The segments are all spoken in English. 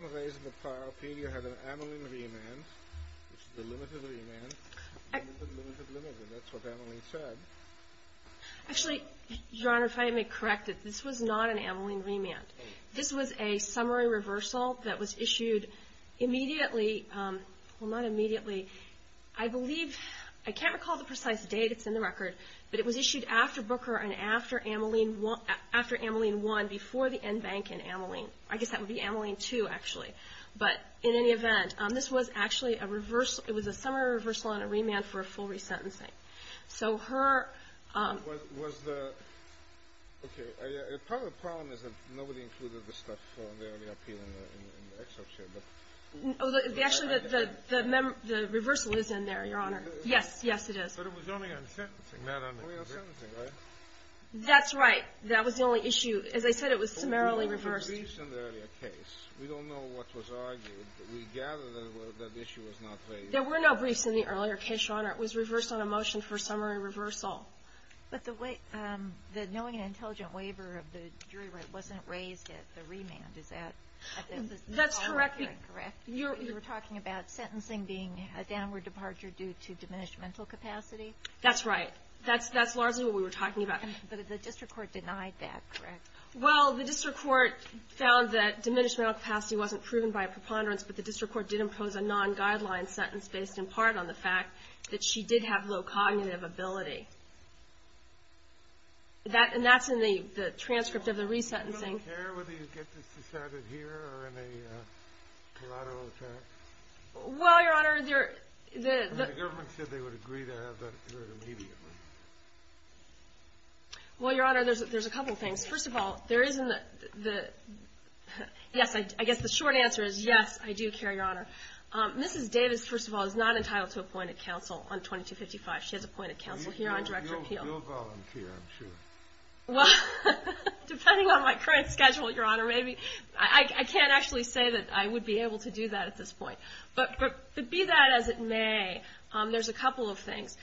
In some ways in the prior opinion, you have an Ameline remand, which is a limited remand, limited, limited, limited. That's what Ameline said. Actually, Your Honor, if I may correct it, this was not an Ameline remand. This was a summary reversal that was issued immediately – well, not immediately. I believe – I can't recall the precise date. It's in the record. But it was issued after Booker and after Ameline – after Ameline I, before the end bank in Ameline. I guess that would be Ameline II, actually. But in any event, this was actually a – it was a summary reversal and a remand for a full resentencing. So her – Was the – okay. Part of the problem is that nobody included this stuff in the early appeal in the excerpt here. Actually, the reversal is in there, Your Honor. Yes, yes, it is. But it was only on sentencing, right? Only on sentencing, right? That's right. That was the only issue. As I said, it was summarily reversed. There were no briefs in the earlier case. We don't know what was argued. We gather that issue was not raised. There were no briefs in the earlier case, Your Honor. It was reversed on a motion for summary reversal. But the knowing and intelligent waiver of the jury right wasn't raised at the remand. Is that – That's correct. Is that correct? You were talking about sentencing being a downward departure due to diminished mental capacity? That's right. That's largely what we were talking about. But the district court denied that, correct? Well, the district court found that diminished mental capacity wasn't proven by a preponderance, but the district court did impose a non-guideline sentence based in part on the fact that she did have low cognitive ability. And that's in the transcript of the resentencing. Does the government care whether you get this decided here or in a collateral attack? Well, Your Honor, there – The government said they would agree to have that heard immediately. Well, Your Honor, there's a couple things. First of all, there is in the – yes, I guess the short answer is yes, I do care, Your Honor. Mrs. Davis, first of all, is not entitled to appointed counsel on 2255. She has appointed counsel here on direct repeal. You'll volunteer, I'm sure. Well, depending on my current schedule, Your Honor, maybe. I can't actually say that I would be able to do that at this point. But be that as it may, there's a couple of things.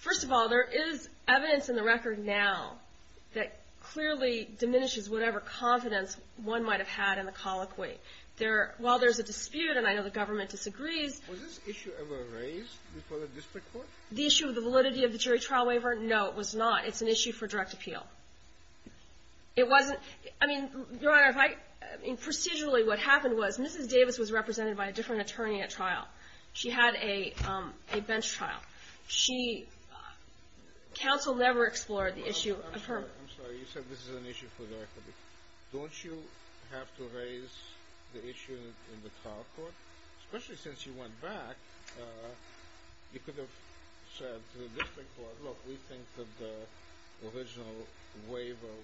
First of all, there is evidence in the record now that clearly diminishes whatever confidence one might have had in the colloquy. There – while there's a dispute, and I know the government disagrees – Was this issue ever raised before the district court? The issue of the validity of the jury trial waiver? No, it was not. It's an issue for direct appeal. It wasn't – I mean, Your Honor, if I – procedurally what happened was Mrs. Davis was represented by a different attorney at trial. She had a bench trial. She – counsel never explored the issue of her – I'm sorry. You said this is an issue for direct appeal. Don't you have to raise the issue in the trial court? Especially since you went back, you could have said to the district court, look, we think that the original waiver –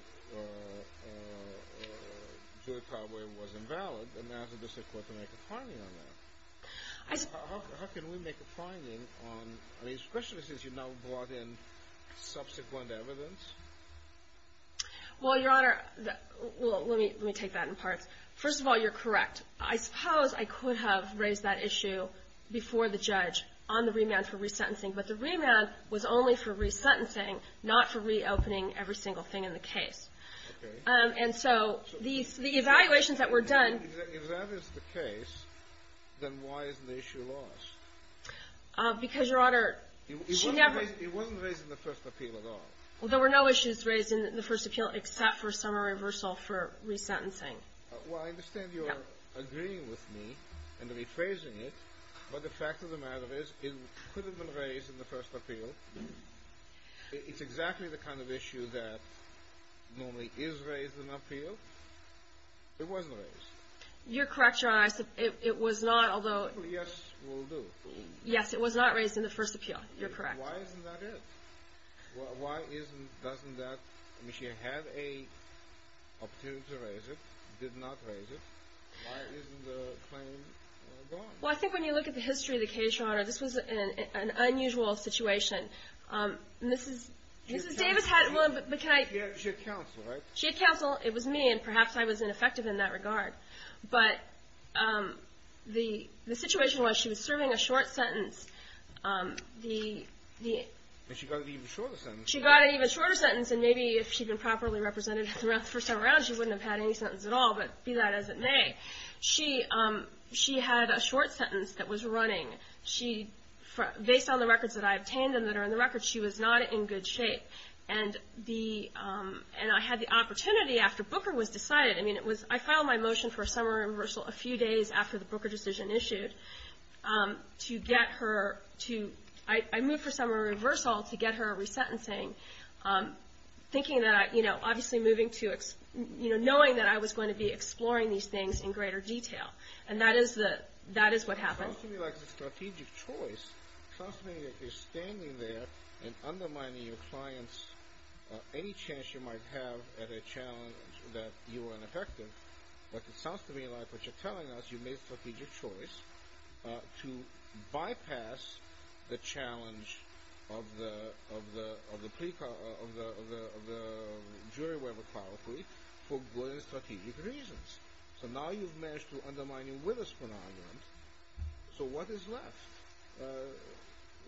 jury trial waiver was invalid, and now the district court can make a finding on that. How can we make a finding on – I mean, especially since you've now brought in subsequent evidence? Well, Your Honor – well, let me take that in parts. First of all, you're correct. I suppose I could have raised that issue before the judge on the remand for resentencing, but the remand was only for resentencing, not for reopening every single thing in the case. Okay. And so these – the evaluations that were done – If that is the case, then why isn't the issue lost? Because, Your Honor, she never – It wasn't raised in the first appeal at all. Well, there were no issues raised in the first appeal except for summary reversal for resentencing. Well, I understand you're agreeing with me and rephrasing it, but the fact of the matter is it could have been raised in the first appeal. It's exactly the kind of issue that normally is raised in an appeal. It wasn't raised. You're correct, Your Honor. It was not, although – Yes, it will do. Yes, it was not raised in the first appeal. You're correct. Why isn't that it? Why isn't – doesn't that – I mean, she had an opportunity to raise it, did not raise it. Why isn't the claim gone? Well, I think when you look at the history of the case, Your Honor, this was an unusual situation. Mrs. Davis had – She had counsel, right? She had counsel. It was me, and perhaps I was ineffective in that regard. But the situation was she was serving a short sentence. But she got an even shorter sentence. She got an even shorter sentence, and maybe if she'd been properly represented throughout the first time around, she wouldn't have had any sentence at all, but be that as it may. She had a short sentence that was running. She – based on the records that I obtained and that are in the records, she was not in good shape. And the – and I had the opportunity after Booker was decided – I mean, it was – I filed my motion for a summary reversal a few days after the Booker decision issued to get her to – I moved for summary reversal to get her resentencing, thinking that I – you know, obviously moving to – And that is the – that is what happened. It sounds to me like a strategic choice. It sounds to me like you're standing there and undermining your client's – any chance you might have at a challenge that you were ineffective. But it sounds to me like what you're telling us, you made a strategic choice to bypass the challenge of the – of the jury waiver policy for good and strategic reasons. So now you've managed to undermine it with this phenomenon. So what is left?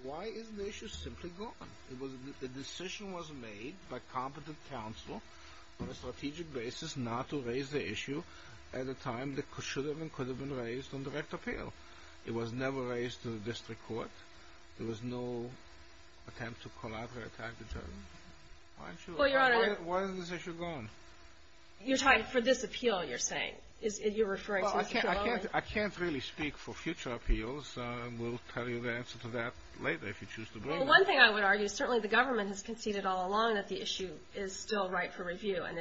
Why isn't the issue simply gone? It was – the decision was made by competent counsel on a strategic basis not to raise the issue at a time that should have and could have been raised on direct appeal. It was never raised to the district court. There was no attempt to collaborate or attack the judge. Why isn't she – Well, Your Honor – Why isn't this issue gone? You're talking – for this appeal, you're saying. You're referring to this appeal only? Well, I can't really speak for future appeals. We'll tell you the answer to that later if you choose to bring it up. Well, one thing I would argue is certainly the government has conceded all along that the issue is still right for review and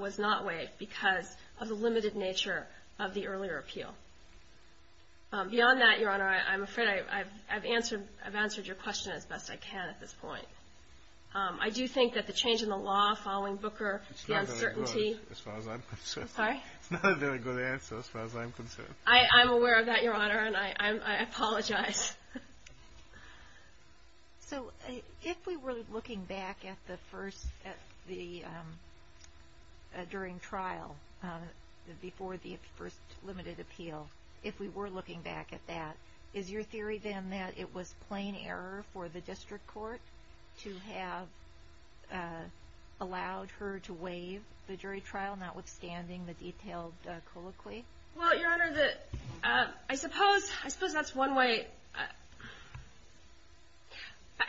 was not waived because of the limited nature of the earlier appeal. Beyond that, Your Honor, I'm afraid I've answered your question as best I can at this point. I do think that the change in the law following Booker, the uncertainty – It's not very good as far as I'm concerned. Sorry? It's not a very good answer as far as I'm concerned. I'm aware of that, Your Honor, and I apologize. So if we were looking back at the first – at the – during trial before the first limited appeal, if we were looking back at that, is your theory then that it was plain error for the district court to have allowed her to waive the jury trial, notwithstanding the detailed colloquy? Well, Your Honor, the – I suppose that's one way –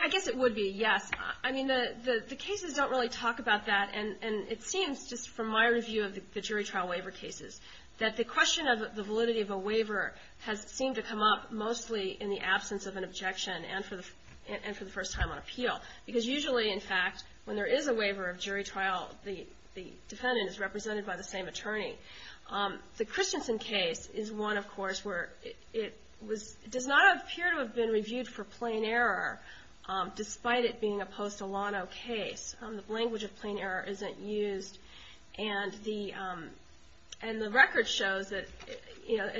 I guess it would be, yes. I mean, the cases don't really talk about that, and it seems just from my review of the jury trial waiver cases that the question of the validity of a waiver has seemed to come up mostly in the absence of an objection and for the first time on appeal. Because usually, in fact, when there is a waiver of jury trial, the defendant is represented by the same attorney. The Christensen case is one, of course, where it was – it does not appear to have been reviewed for plain error, despite it being a post-Olano case. The language of plain error isn't used, and the – and the record shows that, you know,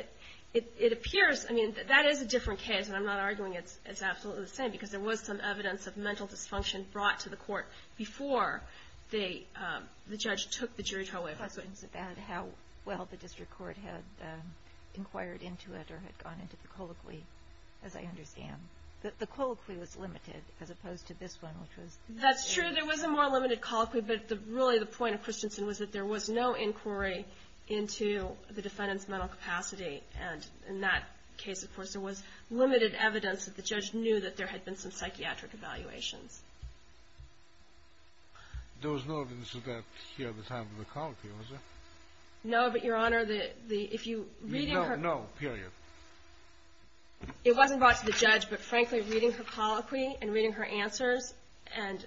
it appears – I mean, that is a different case, and I'm not arguing it's absolutely the same, because there was some evidence of mental dysfunction brought to the court before they – the judge took the jury trial waiver. I thought something about how well the district court had inquired into it or had gone into the colloquy, as I understand. The colloquy was limited, as opposed to this one, which was – That's true. There was a more limited colloquy, but really the point of Christensen was that there was no inquiry into the defendant's mental capacity. And in that case, of course, there was limited evidence that the judge knew that there had been some psychiatric evaluations. There was no evidence of that here at the time of the colloquy, was there? No, but, Your Honor, the – if you – No, no, period. It wasn't brought to the judge, but frankly, reading her colloquy and reading her answers and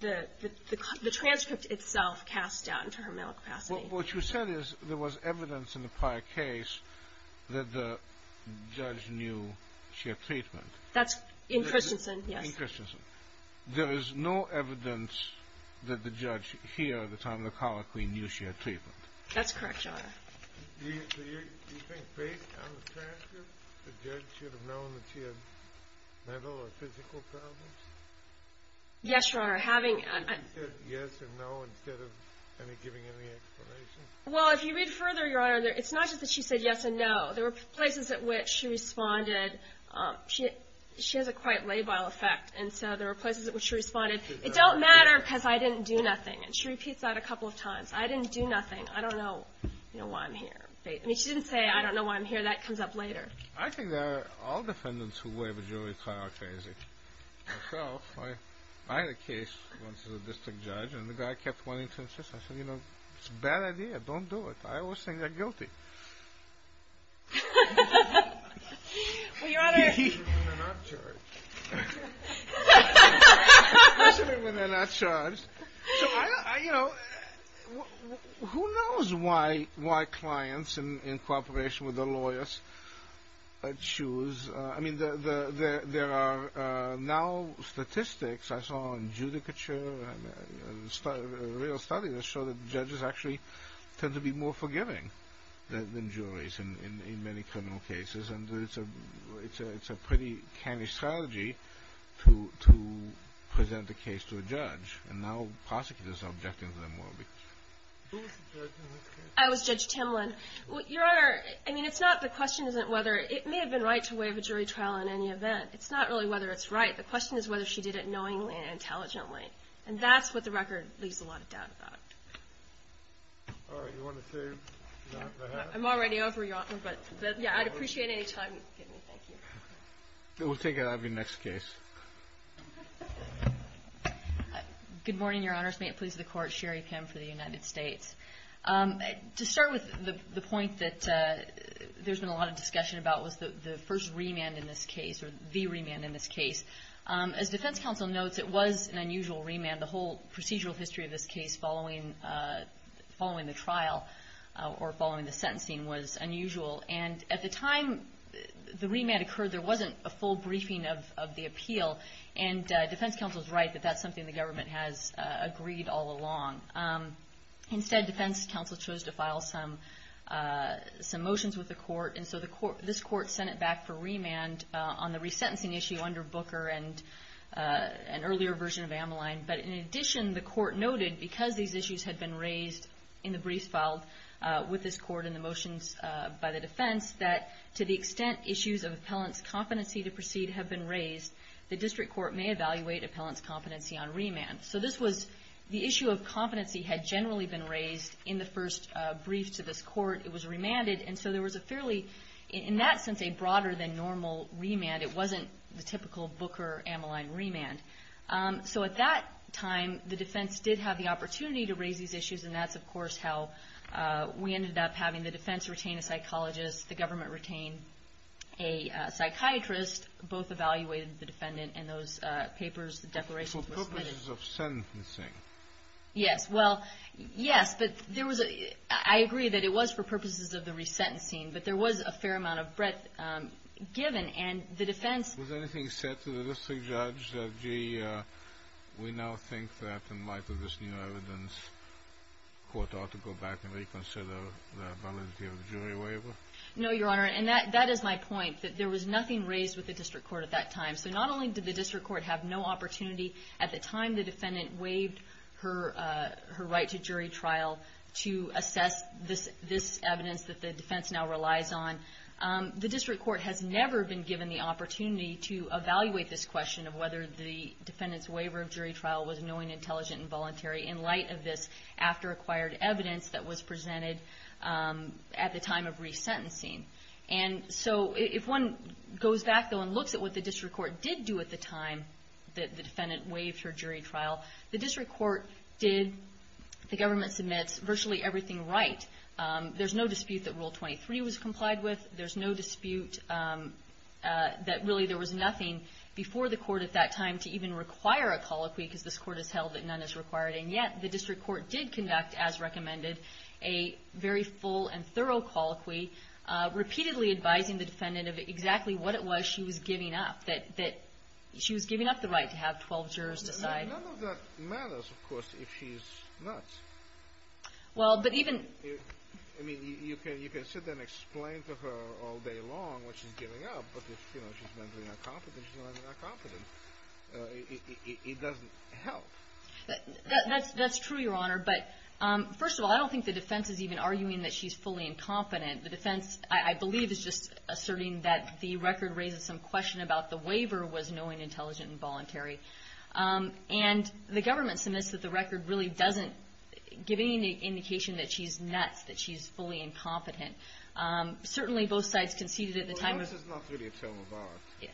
the transcript itself cast doubt into her mental capacity. What you said is there was evidence in the prior case that the judge knew she had treatment. That's in Christensen, yes. In Christensen. There is no evidence that the judge here at the time of the colloquy knew she had treatment. That's correct, Your Honor. Do you think, based on the transcript, the judge should have known that she had mental or physical problems? Yes, Your Honor, having – She said yes and no instead of giving any explanation? Well, if you read further, Your Honor, it's not just that she said yes and no. There were places at which she responded – she has a quite labile effect, and so there were places at which she responded, it don't matter because I didn't do nothing, and she repeats that a couple of times. I didn't do nothing. I don't know why I'm here. She didn't say, I don't know why I'm here. That comes up later. I think there are all defendants who waive a jury prior case. Myself, I had a case once as a district judge, and the guy kept wanting to insist. I said, you know, it's a bad idea. Don't do it. I always think they're guilty. Especially when they're not charged. Especially when they're not charged. So, you know, who knows why clients, in cooperation with their lawyers, choose – I mean, there are now statistics I saw in judicature, a real study, that show that judges actually tend to be more forgiving than juries in many criminal cases, and it's a pretty canny strategy to present a case to a judge. And now prosecutors are objecting to them more. Who was the judge in this case? It was Judge Timlin. Your Honor, I mean, it's not – the question isn't whether – it may have been right to waive a jury trial in any event. It's not really whether it's right. The question is whether she did it knowingly and intelligently. And that's what the record leaves a lot of doubt about. All right. You want to say something, perhaps? I'm already over, Your Honor. But, yeah, I'd appreciate any time you give me. Thank you. We'll take it out of your next case. Good morning, Your Honors. May it please the Court. Sherry Pim for the United States. To start with the point that there's been a lot of discussion about was the first remand in this case, or the remand in this case. As Defense Counsel notes, it was an unusual remand. The whole procedural history of this case following the trial or following the sentencing was unusual. And at the time the remand occurred, there wasn't a full briefing of the appeal. And Defense Counsel is right that that's something the government has agreed all along. Instead, Defense Counsel chose to file some motions with the Court. And so this Court sent it back for remand on the resentencing issue under Booker and an earlier version of Ameline. But in addition, the Court noted, because these issues had been raised in the briefs filed with this Court and the motions by the defense, that to the extent issues of appellant's competency to proceed have been raised, the district court may evaluate appellant's competency on remand. So this was the issue of competency had generally been raised in the first brief to this court. It was remanded. And so there was a fairly, in that sense, a broader than normal remand. It wasn't the typical Booker-Ameline remand. So at that time, the defense did have the opportunity to raise these issues, and that's, of course, how we ended up having the defense retain a psychologist, the government retain a psychiatrist. Both evaluated the defendant, and those papers, the declarations were submitted. For purposes of sentencing. Yes. Well, yes, but there was a ‑‑ I agree that it was for purposes of the resentencing, but there was a fair amount of breadth given, and the defense ‑‑ Was anything said to the district judge that, gee, we now think that in light of this new evidence, the court ought to go back and reconsider the validity of the jury waiver? No, Your Honor, and that is my point, that there was nothing raised with the district court at that time. So not only did the district court have no opportunity at the time the defendant waived her right to jury trial to assess this evidence that the defense now relies on, the district court has never been given the opportunity to evaluate this question of whether the defendant's waiver of jury trial was knowing, intelligent, and voluntary in light of this after acquired evidence that was presented at the time of resentencing. And so if one goes back, though, and looks at what the district court did do at the time that the defendant waived her jury trial, the district court did, the government submits, virtually everything right. There's no dispute that Rule 23 was complied with. There's no dispute that really there was nothing before the court at that time to even require a colloquy, because this court has held that none is required. And yet the district court did conduct, as recommended, a very full and thorough colloquy, repeatedly advising the defendant of exactly what it was she was giving up, that she was giving up the right to have 12 jurors decide. None of that matters, of course, if she's not. Well, but even... I mean, you can sit there and explain to her all day long what she's giving up, but if, you know, she's mentally incompetent, she's mentally incompetent. It doesn't help. That's true, Your Honor, but first of all, I don't think the defense is even arguing that she's fully incompetent. The defense, I believe, is just asserting that the record raises some question about the waiver was knowing, intelligent, and voluntary. And the government submits that the record really doesn't give any indication that she's nuts, that she's fully incompetent. Certainly, both sides conceded at the time... Well, no, this is not really a term of art.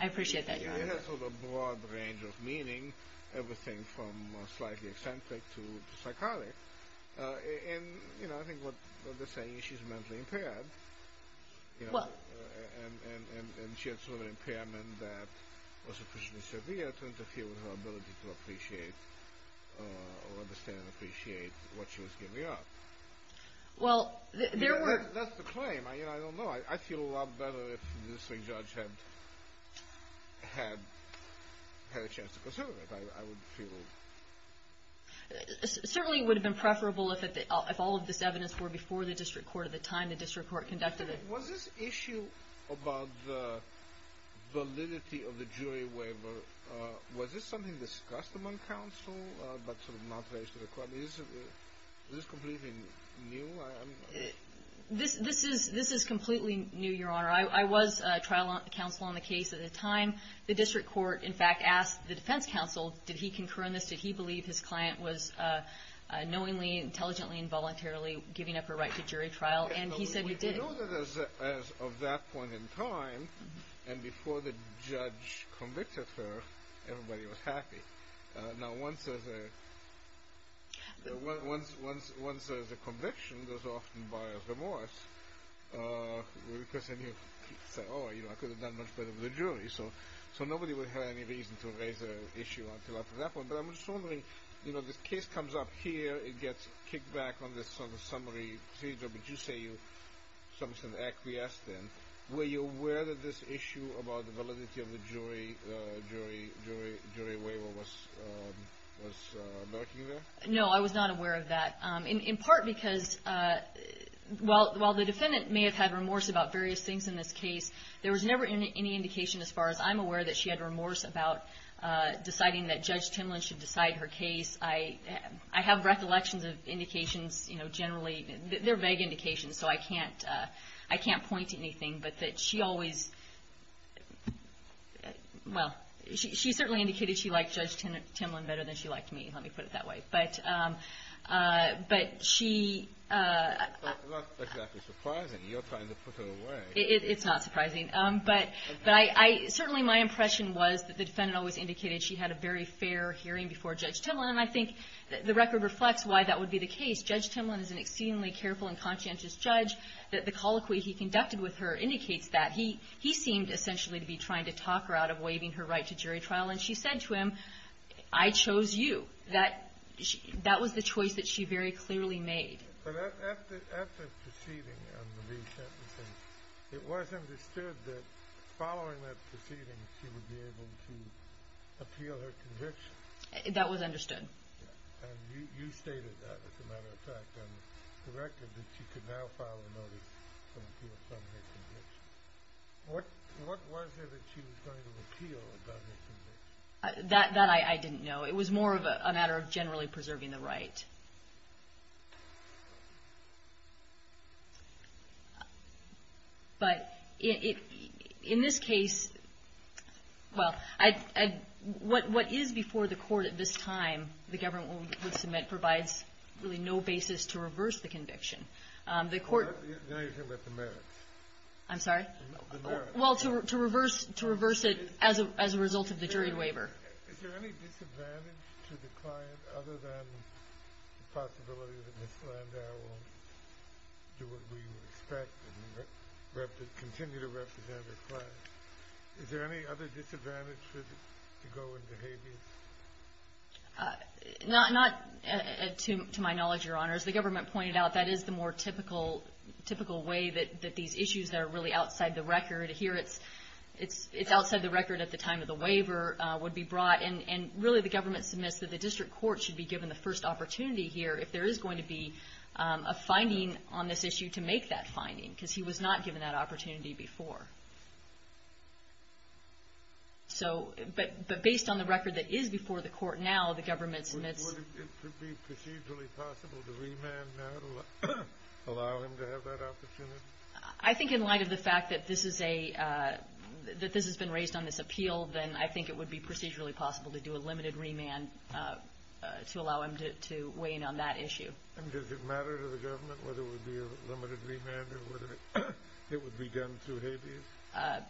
I appreciate that, Your Honor. It has sort of a broad range of meaning, everything from slightly eccentric to psychotic. And, you know, I think what they're saying is she's mentally impaired. And she had sort of an impairment that was sufficiently severe to interfere with her ability to appreciate or understand and appreciate what she was giving up. Well, there were... That's the claim. I don't know. I'd feel a lot better if the district judge had a chance to consider it, I would feel. Certainly, it would have been preferable if all of this evidence were before the district court at the time. The district court conducted it. Was this issue about the validity of the jury waiver, was this something discussed among counsel, but sort of not raised to the court? Is this completely new? This is completely new, Your Honor. I was trial counsel on the case at the time. The district court, in fact, asked the defense counsel, did he concur in this? Did he believe his client was knowingly, intelligently, and voluntarily giving up her right to jury trial? And he said he did. As of that point in time, and before the judge convicted her, everybody was happy. Now, once there's a conviction, there's often bias remorse. Because then you say, oh, I could have done much better with the jury. So nobody would have any reason to raise the issue until after that point. But I'm just wondering, this case comes up here, it gets kicked back on this summary procedure, but you say something's been acquiesced in. Were you aware that this issue about the validity of the jury waiver was lurking there? No, I was not aware of that. In part because while the defendant may have had remorse about various things in this case, there was never any indication as far as I'm aware that she had remorse about deciding that Judge Timlin should decide her case. I have recollections of indications generally. They're vague indications, so I can't point to anything. But that she always – well, she certainly indicated she liked Judge Timlin better than she liked me. Let me put it that way. But she – It's not exactly surprising. You're trying to put her away. It's not surprising. But certainly my impression was that the defendant always indicated she had a very fair hearing before Judge Timlin. And I think the record reflects why that would be the case. Judge Timlin is an exceedingly careful and conscientious judge. The colloquy he conducted with her indicates that. He seemed essentially to be trying to talk her out of waiving her right to jury trial. And she said to him, I chose you. That was the choice that she very clearly made. But at the proceeding, it was understood that following that proceeding she would be able to appeal her conviction. That was understood. And you stated that, as a matter of fact, and directed that she could now file a notice to appeal some of her convictions. What was it that she was going to appeal about her convictions? That I didn't know. It was more of a matter of generally preserving the right. But in this case, well, what is before the court at this time, the government would submit, provides really no basis to reverse the conviction. The court — Now you're talking about the merits. I'm sorry? The merits. Well, to reverse it as a result of the jury waiver. Is there any disadvantage to the client other than the possibility that Ms. Landau will do what we would expect and continue to represent her client? Is there any other disadvantage to go into habeas? Not to my knowledge, Your Honor. As the government pointed out, that is the more typical way that these issues that are really outside the record. Here it's outside the record at the time of the waiver would be brought. And really the government submits that the district court should be given the first opportunity here if there is going to be a finding on this issue to make that finding. Because he was not given that opportunity before. But based on the record that is before the court now, the government submits — Would it be procedurally possible to remand now to allow him to have that opportunity? I think in light of the fact that this has been raised on this appeal, then I think it would be procedurally possible to do a limited remand to allow him to weigh in on that issue. And does it matter to the government whether it would be a limited remand or whether it would be done through habeas?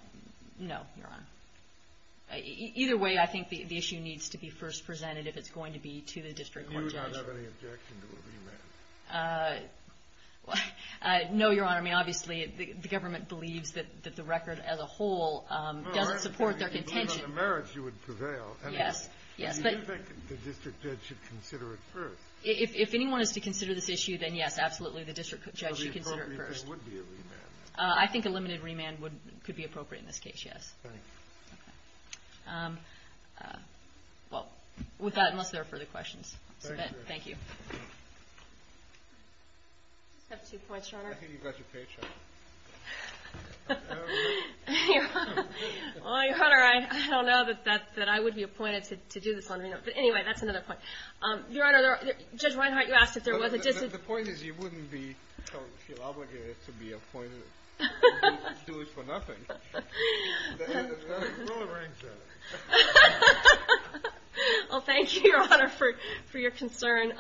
No, Your Honor. Either way, I think the issue needs to be first presented if it's going to be to the district court judge. Do you not have any objection to a remand? No, Your Honor. I mean, obviously, the government believes that the record as a whole doesn't support their contention. Well, based on the merits, you would prevail. Yes. But you do think the district judge should consider it first. If anyone is to consider this issue, then yes, absolutely, the district judge should consider it first. So the appropriate thing would be a remand. I think a limited remand could be appropriate in this case, yes. Thank you. Well, with that, unless there are further questions. Thank you. Thank you. I just have two points, Your Honor. I think you've got your paycheck. I don't know. Well, Your Honor, I don't know that I would be appointed to do this on remand. But anyway, that's another point. Your Honor, Judge Reinhardt, you asked if there was a dis- The point is you wouldn't feel obligated to be appointed. You'd do it for nothing. The head is going to throw a ring to it. Well, thank you, Your Honor, for your concern.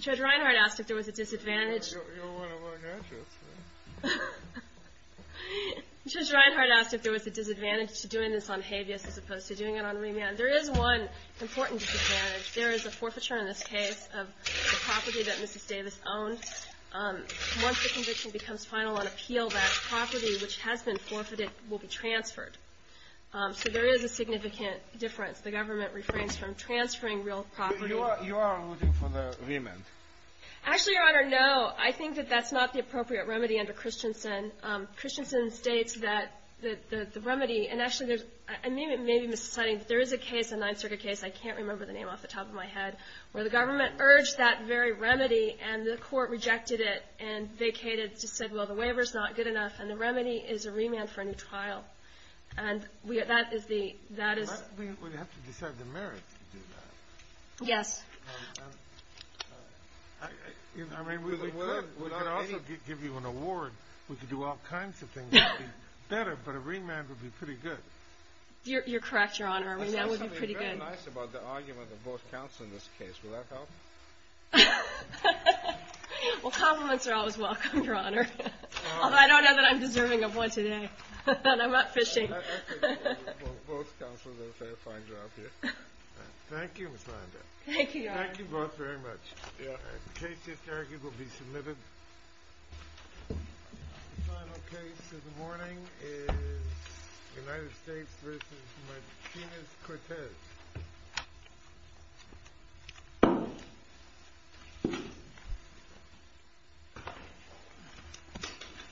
Judge Reinhardt asked if there was a disadvantage. You're one of our graduates. Judge Reinhardt asked if there was a disadvantage to doing this on habeas as opposed to doing it on remand. There is one important disadvantage. There is a forfeiture in this case of the property that Mrs. Davis owned. Once the conviction becomes final on appeal, that property which has been forfeited will be transferred. So there is a significant difference. The government refrains from transferring real property. So you are voting for the remand? Actually, Your Honor, no. I think that that's not the appropriate remedy under Christensen. Christensen states that the remedy, and actually there's, I may be mis-citing, but there is a case, a Ninth Circuit case, I can't remember the name off the top of my head, where the government urged that very remedy and the court rejected it and vacated, just said, well, the waiver's not good enough, and the remedy is a remand for a new trial. And that is the, that is- I mean, we'd have to decide the merits to do that. Yes. I mean, we could also give you an award. We could do all kinds of things that would be better, but a remand would be pretty good. You're correct, Your Honor. A remand would be pretty good. There's something very nice about the argument of both counsel in this case. Will that help? Well, compliments are always welcome, Your Honor. Although I don't know that I'm deserving of one today. And I'm not fishing. Well, both counsel did a fair, fine job here. Thank you, Ms. Landau. Thank you, Your Honor. Thank you both very much. The case just argued will be submitted. The final case of the morning is United States v. Martinez-Cortez.